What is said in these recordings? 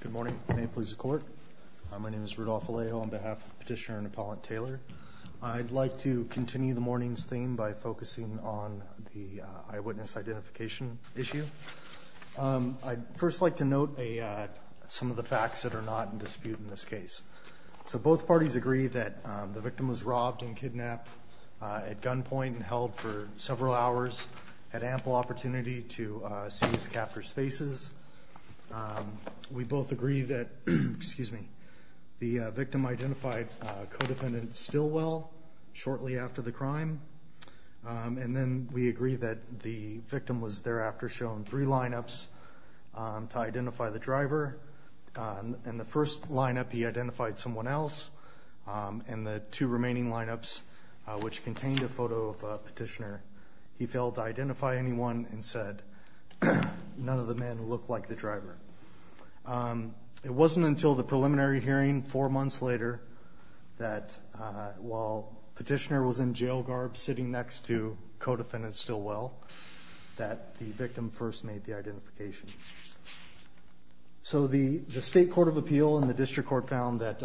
Good morning, may it please the court. My name is Rudolph Alejo on behalf of Petitioner and Appellant Taylor. I'd like to continue the morning's theme by focusing on the eyewitness identification issue. I'd first like to note some of the facts that are not in dispute in this case. So both parties agree that the victim was robbed and kidnapped at gunpoint and held for several hours, had We both agree that, excuse me, the victim identified a co-defendant still well, shortly after the crime. And then we agree that the victim was thereafter shown three lineups to identify the driver. In the first lineup, he identified someone else. In the two remaining lineups, which contained a photo of a petitioner, he failed to identify anyone and said, none of the looked like the driver. It wasn't until the preliminary hearing, four months later, that while petitioner was in jail garb sitting next to co-defendant still well, that the victim first made the identification. So the State Court of Appeal and the District Court found that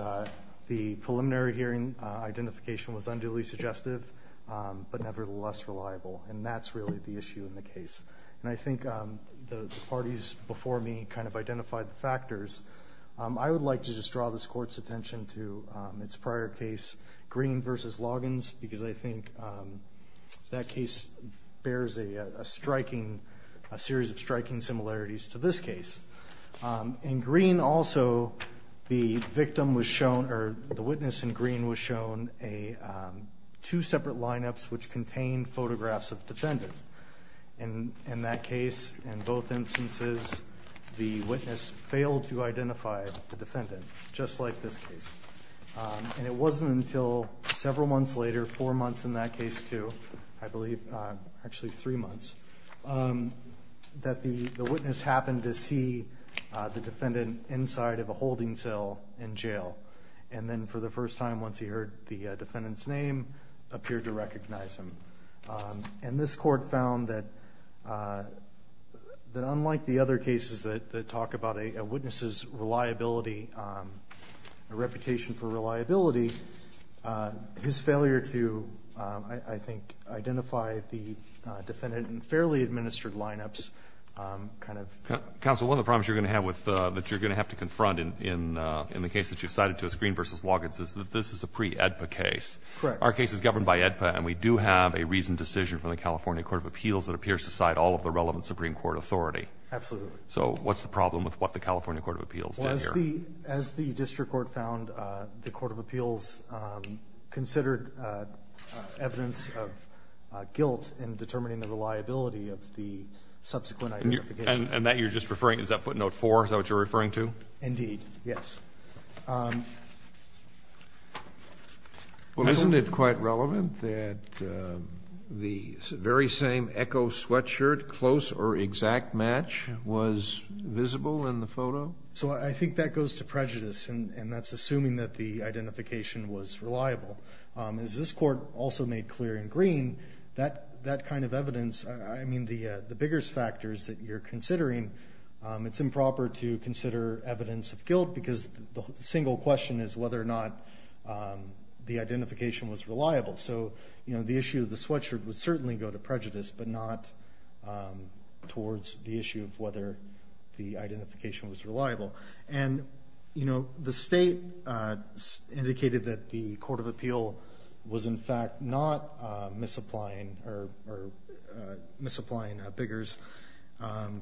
the preliminary hearing identification was unduly suggestive, but nevertheless reliable. And that's really the issue in And I think the parties before me kind of identified the factors. I would like to just draw this court's attention to its prior case, Green versus Loggins, because I think that case bears a striking, a series of striking similarities to this case. In Green also, the victim was shown, or the witness in Green was shown, two separate lineups which contained photographs of the defendant. And in that case, in both instances, the witness failed to identify the defendant, just like this case. And it wasn't until several months later, four months in that case too, I believe, actually three months, that the witness happened to see the defendant inside of a holding cell in jail. And then for the first time, once he heard the defendant's name, appeared to recognize him. And this court found that, that unlike the other cases that talk about a witness's reliability, a reputation for reliability, his failure to, I think, identify the defendant in fairly administered lineups, kind of... Counsel, one of the problems you're going to have with, that you're going to have to confront in the case that you've cited, too, is Green versus Loggins, is that this is a pre-AEDPA case. Correct. Our case is governed by AEDPA, and we do have a reasoned decision from the California Court of Appeals that appears to side all of the relevant Supreme Court authority. Absolutely. So what's the problem with what the California Court of Appeals did here? Well, as the District Court found, the Court of Appeals considered evidence of guilt in determining the reliability of the subsequent identification. And that you're just referring, is that footnote four, is that what you're referring to? Indeed, yes. Well, isn't it quite relevant that the very same Echo sweatshirt, close or exact match, was visible in the photo? So I think that goes to prejudice, and that's assuming that the identification was reliable. As this Court also made clear in Green, that kind of evidence, I mean, the biggest factors that you're considering, it's improper to consider evidence of guilt because the single question is whether or not the identification was reliable. So, you know, the issue of the sweatshirt would certainly go to prejudice, but not towards the issue of whether the identification was reliable. And, you know, the state indicated that the Court of Appeal was, in fact, not misapplying or misapplying biggers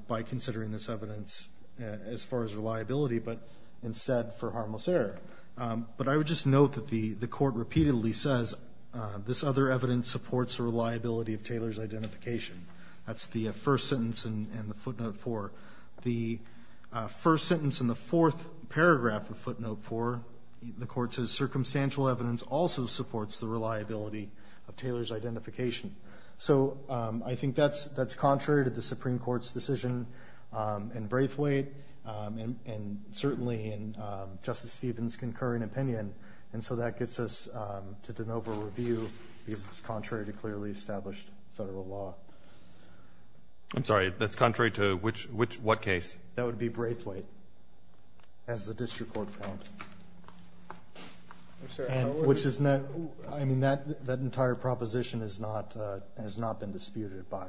by considering this evidence as far as instead for harmless error. But I would just note that the Court repeatedly says, this other evidence supports the reliability of Taylor's identification. That's the first sentence in the footnote four. The first sentence in the fourth paragraph of footnote four, the Court says circumstantial evidence also supports the reliability of Taylor's identification. So I think that's contrary to the Supreme Court's decision in Braithwaite, and certainly in Justice Stevens' concurring opinion. And so that gets us to de novo review, because it's contrary to clearly established federal law. I'm sorry, that's contrary to which, which, what case? That would be Braithwaite, as the district court found, which is not, I mean, that, that entire proposition is not, has not been disputed by,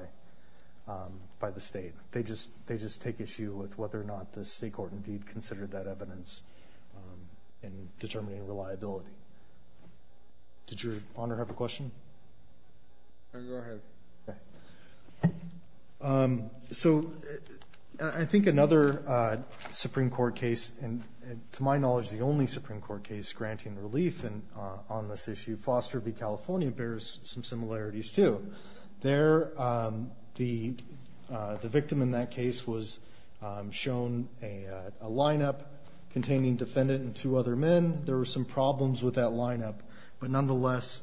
by the state. They just, they just take issue with whether or not the state court indeed considered that evidence in determining reliability. Did your Honor have a question? Go ahead. Okay. So I think another Supreme Court case, and to my knowledge, the only Supreme Court case granting relief on this issue, Foster v. California, bears some similarities too. There, the, the victim in that case was shown a, a lineup containing defendant and two other men. There were some problems with that lineup, but nonetheless,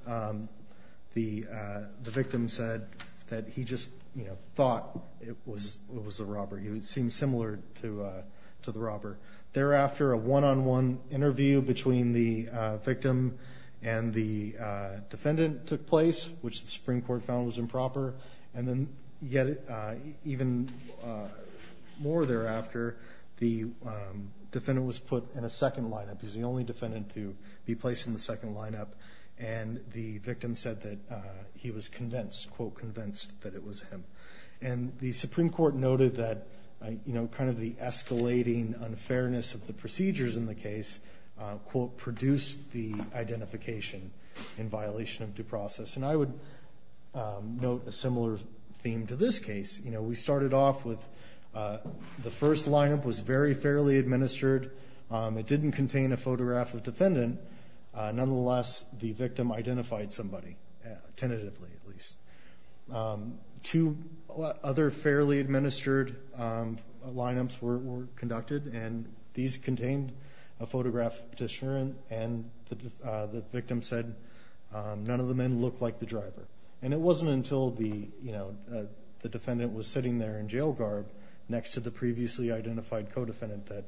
the, the victim said that he just, you know, thought it was, it was a robber. He would seem similar to, to the robber. Thereafter, a one-on-one interview between the victim and the defendant took place, which the Supreme Court found was improper. And then yet even more thereafter, the defendant was put in a second lineup. He's the only defendant to be placed in the second lineup. And the victim said that he was convinced, quote, convinced that it was him. And the Supreme Court noted that, you know, kind of the escalating unfairness of the procedures in the case, quote, produced the identification in violation of due process. And I would note a similar theme to this case. You know, we started off with the first lineup was very fairly administered. It didn't contain a photograph of defendant. Nonetheless, the victim identified somebody, tentatively at least. Two other fairly administered lineups were conducted and these contained a photograph of the defendant, which said none of the men looked like the driver. And it wasn't until the, you know, the defendant was sitting there in jail garb next to the previously identified co-defendant that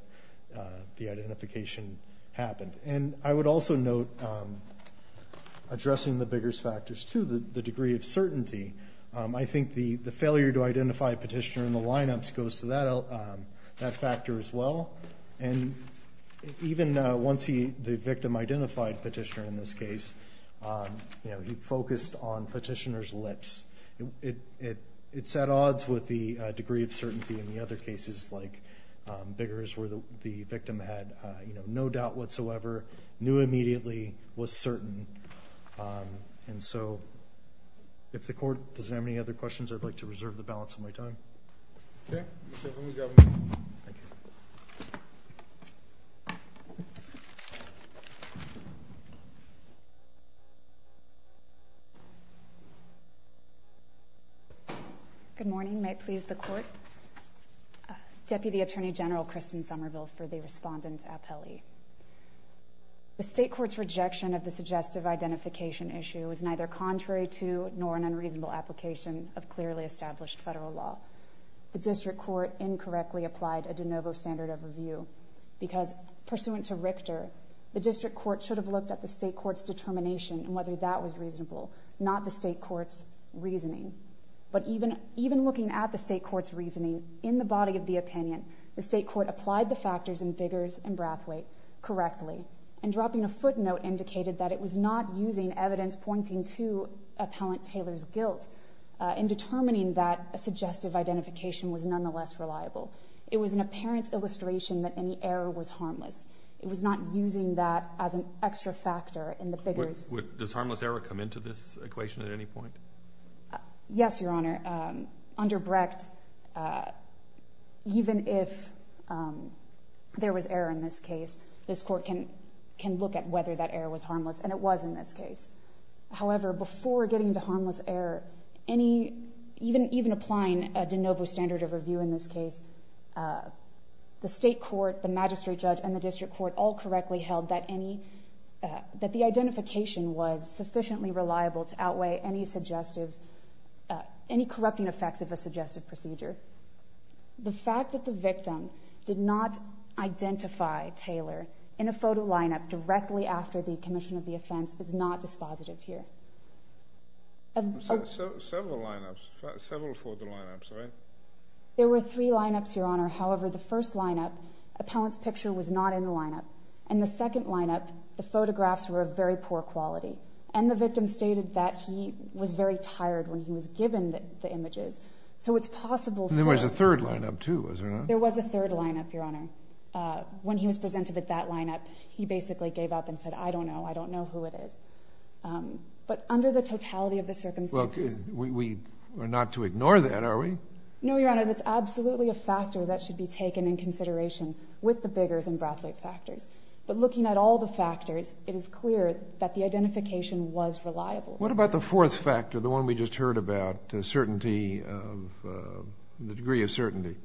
the identification happened, and I would also note addressing the biggest factors to the degree of certainty. I think the, the failure to identify a petitioner in the lineups goes to that, that factor as well. And even once he, the victim identified petitioner in this case, you know, he focused on petitioner's lips. It, it, it's at odds with the degree of certainty in the other cases, like Biggers where the, the victim had, you know, no doubt whatsoever, knew immediately, was certain. And so if the court doesn't have any other questions, I'd like to reserve the balance of my time. Okay. Good morning. May it please the court. Deputy Attorney General Kristen Somerville for the respondent appellee. The state court's rejection of the suggestive identification issue is neither contrary to, nor an unreasonable application of clearly established federal law, the district court incorrectly applied a de novo standard of review because pursuant to Richter, the district court should have looked at the state court's determination and whether that was reasonable, not the state court's reasoning. But even, even looking at the state court's reasoning in the body of the opinion, the state court applied the factors in Biggers and Brathwaite correctly and dropping a footnote indicated that it was not using evidence pointing to appellant Taylor's guilt in determining that a suggestive identification was nonetheless reliable. It was an apparent illustration that any error was harmless. It was not using that as an extra factor in the Biggers. Does harmless error come into this equation at any point? Yes, Your Honor. Under Brecht, even if there was error in this case, this court can look at whether that error was harmless and it was in this case. However, before getting into harmless error, even applying a de novo standard of review in this case, the state court, the magistrate judge and the district court all correctly held that any, that the identification was sufficiently reliable to outweigh any suggestive, any corrupting effects of a suggestive procedure, the fact that the victim did not identify Taylor in a photo lineup directly after the commission of the offense is not dispositive here. And so several lineups, several for the lineups, right? There were three lineups, Your Honor. However, the first lineup, appellant's picture was not in the lineup and the second lineup, the photographs were a very poor quality and the victim stated that he was very tired when he was given the images, so it's possible. And there was a third lineup too, was there not? There was a third lineup, Your Honor. Uh, when he was presented with that lineup, he basically gave up and said, I don't know, I don't know who it is. Um, but under the totality of the circumstances, we are not to ignore that, are we? No, Your Honor. That's absolutely a factor that should be taken in consideration with the Biggers and Brathwaite factors. But looking at all the factors, it is clear that the identification was reliable. What about the fourth factor? The one we just heard about, uh, certainty of, uh, the degree of certainty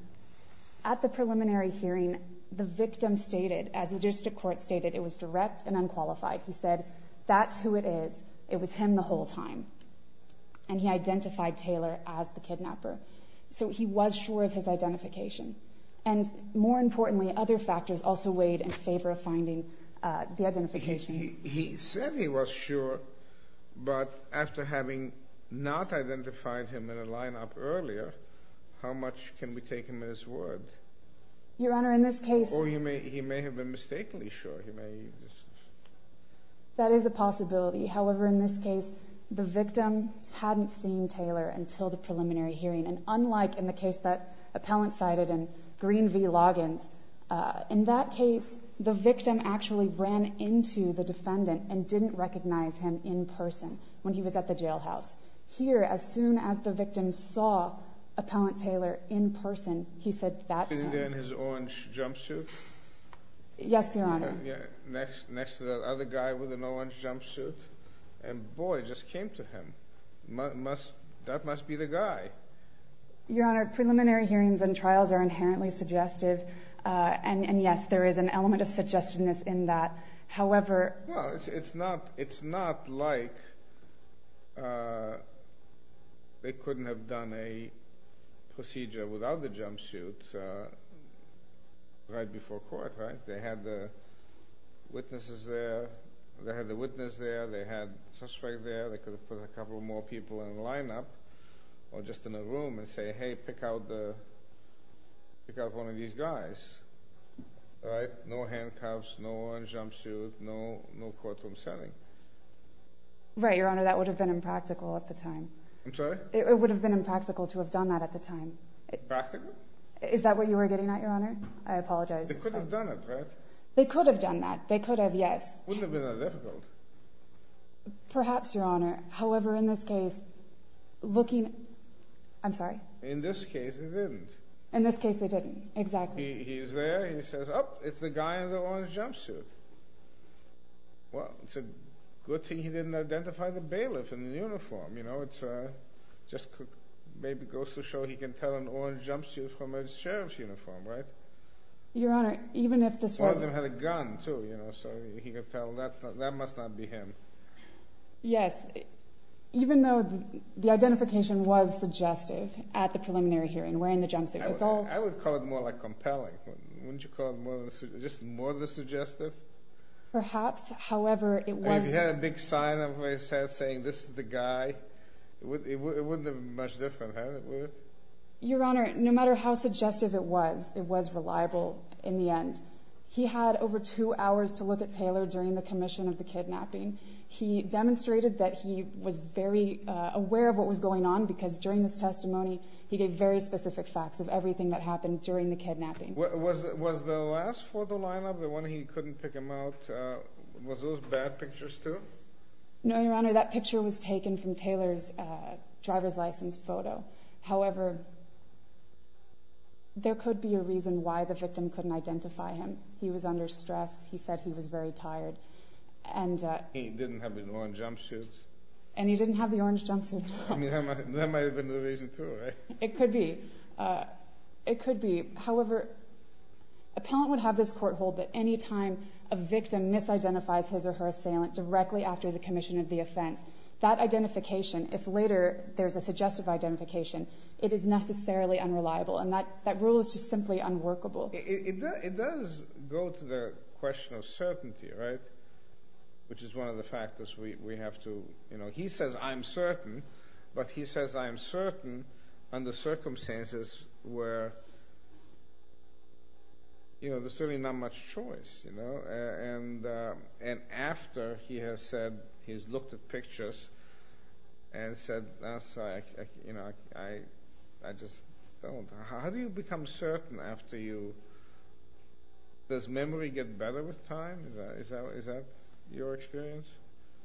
at the preliminary hearing, the victim stated as the district court stated, it was direct and unqualified. He said, that's who it is. It was him the whole time. And he identified Taylor as the kidnapper. So he was sure of his identification. And more importantly, other factors also weighed in favor of finding, uh, the identification. He said he was sure, but after having not identified him in a lineup earlier, how much can we take him in his word? Your Honor, in this case, Or he may, he may have been mistakenly sure. That is a possibility. However, in this case, the victim hadn't seen Taylor until the preliminary hearing and unlike in the case that appellant cited in Green v. Loggins, uh, in that case, the victim actually ran into the defendant and didn't recognize him in person when he was at the jail house. Here, as soon as the victim saw appellant Taylor in person, he said that's him. And then his own jumpsuit? Yes, Your Honor. Next, next to the other guy with a no lunch jumpsuit. And boy, just came to him. Must, that must be the guy. Your Honor, preliminary hearings and trials are inherently suggestive. Uh, and, and yes, there is an element of suggestiveness in that. However, Well, it's, it's not, it's not like, uh, they couldn't have done a procedure without the jumpsuit, uh, right before court, right? They had the witnesses there, they had the witness there, they had suspect there, they could have put a couple of more people in the lineup or just in the room and say, hey, pick out the, pick out one of these guys, right? No handcuffs, no orange jumpsuit, no, no courtroom setting. Right, Your Honor. That would have been impractical at the time. I'm sorry? It would have been impractical to have done that at the time. Is that what you were getting at, Your Honor? I apologize. They could have done it, right? They could have done that. They could have, yes. Wouldn't have been that difficult. Perhaps, Your Honor. However, in this case, looking, I'm sorry? In this case, they didn't. In this case, they didn't. Exactly. He's there, he says, oh, it's the guy in the orange jumpsuit. Well, it's a good thing he didn't identify the bailiff in the uniform. You know, it's, uh, just maybe goes to show he can tell an orange jumpsuit from a sheriff's uniform, right? Your Honor, even if this wasn't. One of them had a gun too, you know, so he could tell that's not, that must not be him. Yes. Even though the identification was suggestive at the preliminary hearing, wearing the jumpsuit, it's all. I would call it more like compelling. Wouldn't you call it more than, just more than suggestive? Perhaps. However, it was. If he had a big sign on his head saying, this is the guy, it wouldn't have been much different, huh? Your Honor, no matter how suggestive it was, it was reliable in the end. He had over two hours to look at Taylor during the commission of the kidnapping. He demonstrated that he was very aware of what was going on because during this testimony, he gave very specific facts of everything that happened during the kidnapping. Was the last for the lineup, the one that he couldn't pick him out, uh, was those bad pictures too? No, Your Honor. That picture was taken from Taylor's, uh, driver's license photo. However, there could be a reason why the victim couldn't identify him. He was under stress. He said he was very tired. And, uh, he didn't have the orange jumpsuit. And he didn't have the orange jumpsuit on. I mean, that might've been the reason too, right? It could be. Uh, it could be. However, appellant would have this court hold that anytime a victim misidentifies his or her assailant directly after the commission of the It is necessarily unreliable. And that, that rule is just simply unworkable. It does go to the question of certainty, right? Which is one of the factors we have to, you know, he says I'm certain, but he says, I am certain under circumstances where, you know, there's certainly not much choice, you know, and, um, and after he has said, he's looked at pictures and said, I'm sorry, I, you know, I, I just don't, how do you become certain after you, does memory get better with time? Is that, is that, is that your experience?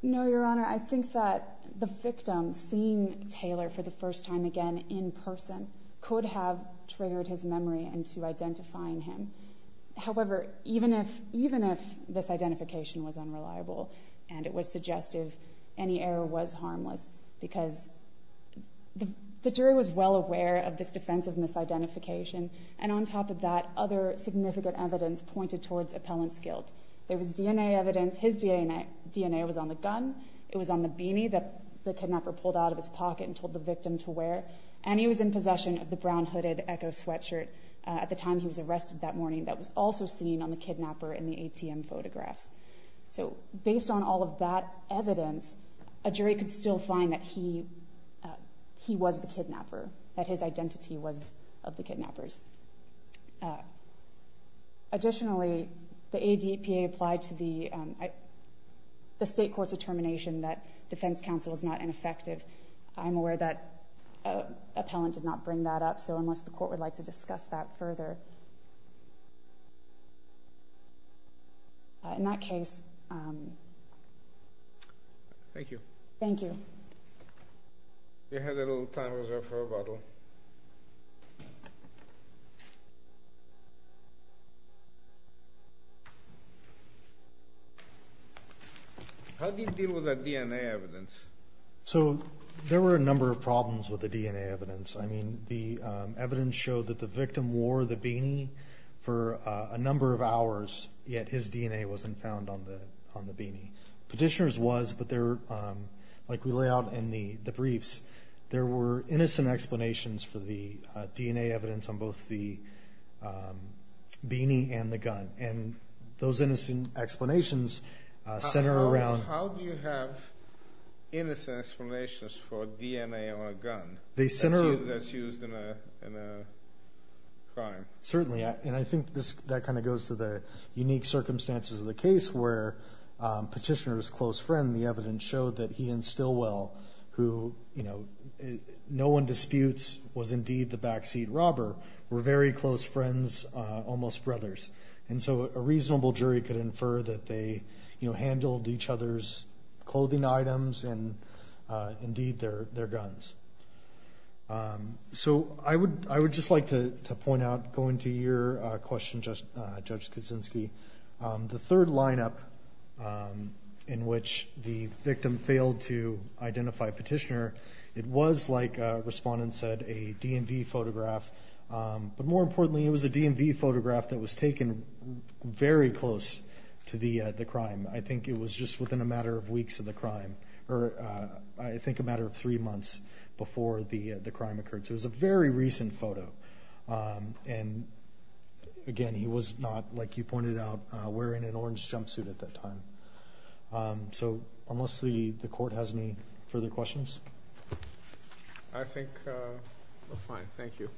No, your honor. I think that the victim seeing Taylor for the first time again in person could have triggered his memory into identifying him. However, even if, even if this identification was unreliable and it was suggestive, any error was harmless because the jury was well aware of this defensive misidentification. And on top of that, other significant evidence pointed towards appellant's guilt. There was DNA evidence. His DNA, DNA was on the gun. It was on the beanie that the kidnapper pulled out of his pocket and told the victim to wear. And he was in possession of the brown hooded Echo sweatshirt. Uh, at the time he was arrested that morning, that was also seen on the kidnapper in the ATM photographs. So based on all of that evidence, a jury could still find that he, uh, he was the kidnapper, that his identity was of the kidnappers. Uh, additionally, the ADPA applied to the, um, the state court's determination that defense counsel is not ineffective. I'm aware that, uh, appellant did not bring that up. So unless the court would like to discuss that further. Uh, in that case, um, thank you, thank you, you had a little time reserve for a bottle. How do you deal with that DNA evidence? So there were a number of problems with the DNA evidence. I mean, the evidence showed that the victim wore the beanie that the kidnapper for a number of hours yet his DNA wasn't found on the, on the beanie petitioners was, but there, um, like we lay out in the briefs, there were innocent explanations for the, uh, DNA evidence on both the, um, beanie and the gun. And those innocent explanations, uh, center around. How do you have innocent explanations for DNA on a gun that's used in a crime? Certainly. I, and I think this, that kind of goes to the unique circumstances of the case where, um, petitioners close friend, the evidence showed that he and still well, who, you know, no one disputes was indeed the backseat robber were very close friends, uh, almost brothers. And so a reasonable jury could infer that they, you know, handled each other's clothing items and, uh, indeed their, their guns. Um, so I would, I would just like to point out, go into your question, just, uh, judge Kaczynski, um, the third lineup, um, in which the victim failed to identify petitioner. It was like a respondent said a DMV photograph. Um, but more importantly, it was a DMV photograph that was taken very close to the, uh, the crime. I think it was just within a matter of weeks of the crime, or, uh, I think a matter of three months. Before the, uh, the crime occurred. So it was a very recent photo. Um, and again, he was not like you pointed out, uh, wearing an orange jumpsuit at that time. Um, so unless the court has any further questions, I think, uh, fine. Thank you.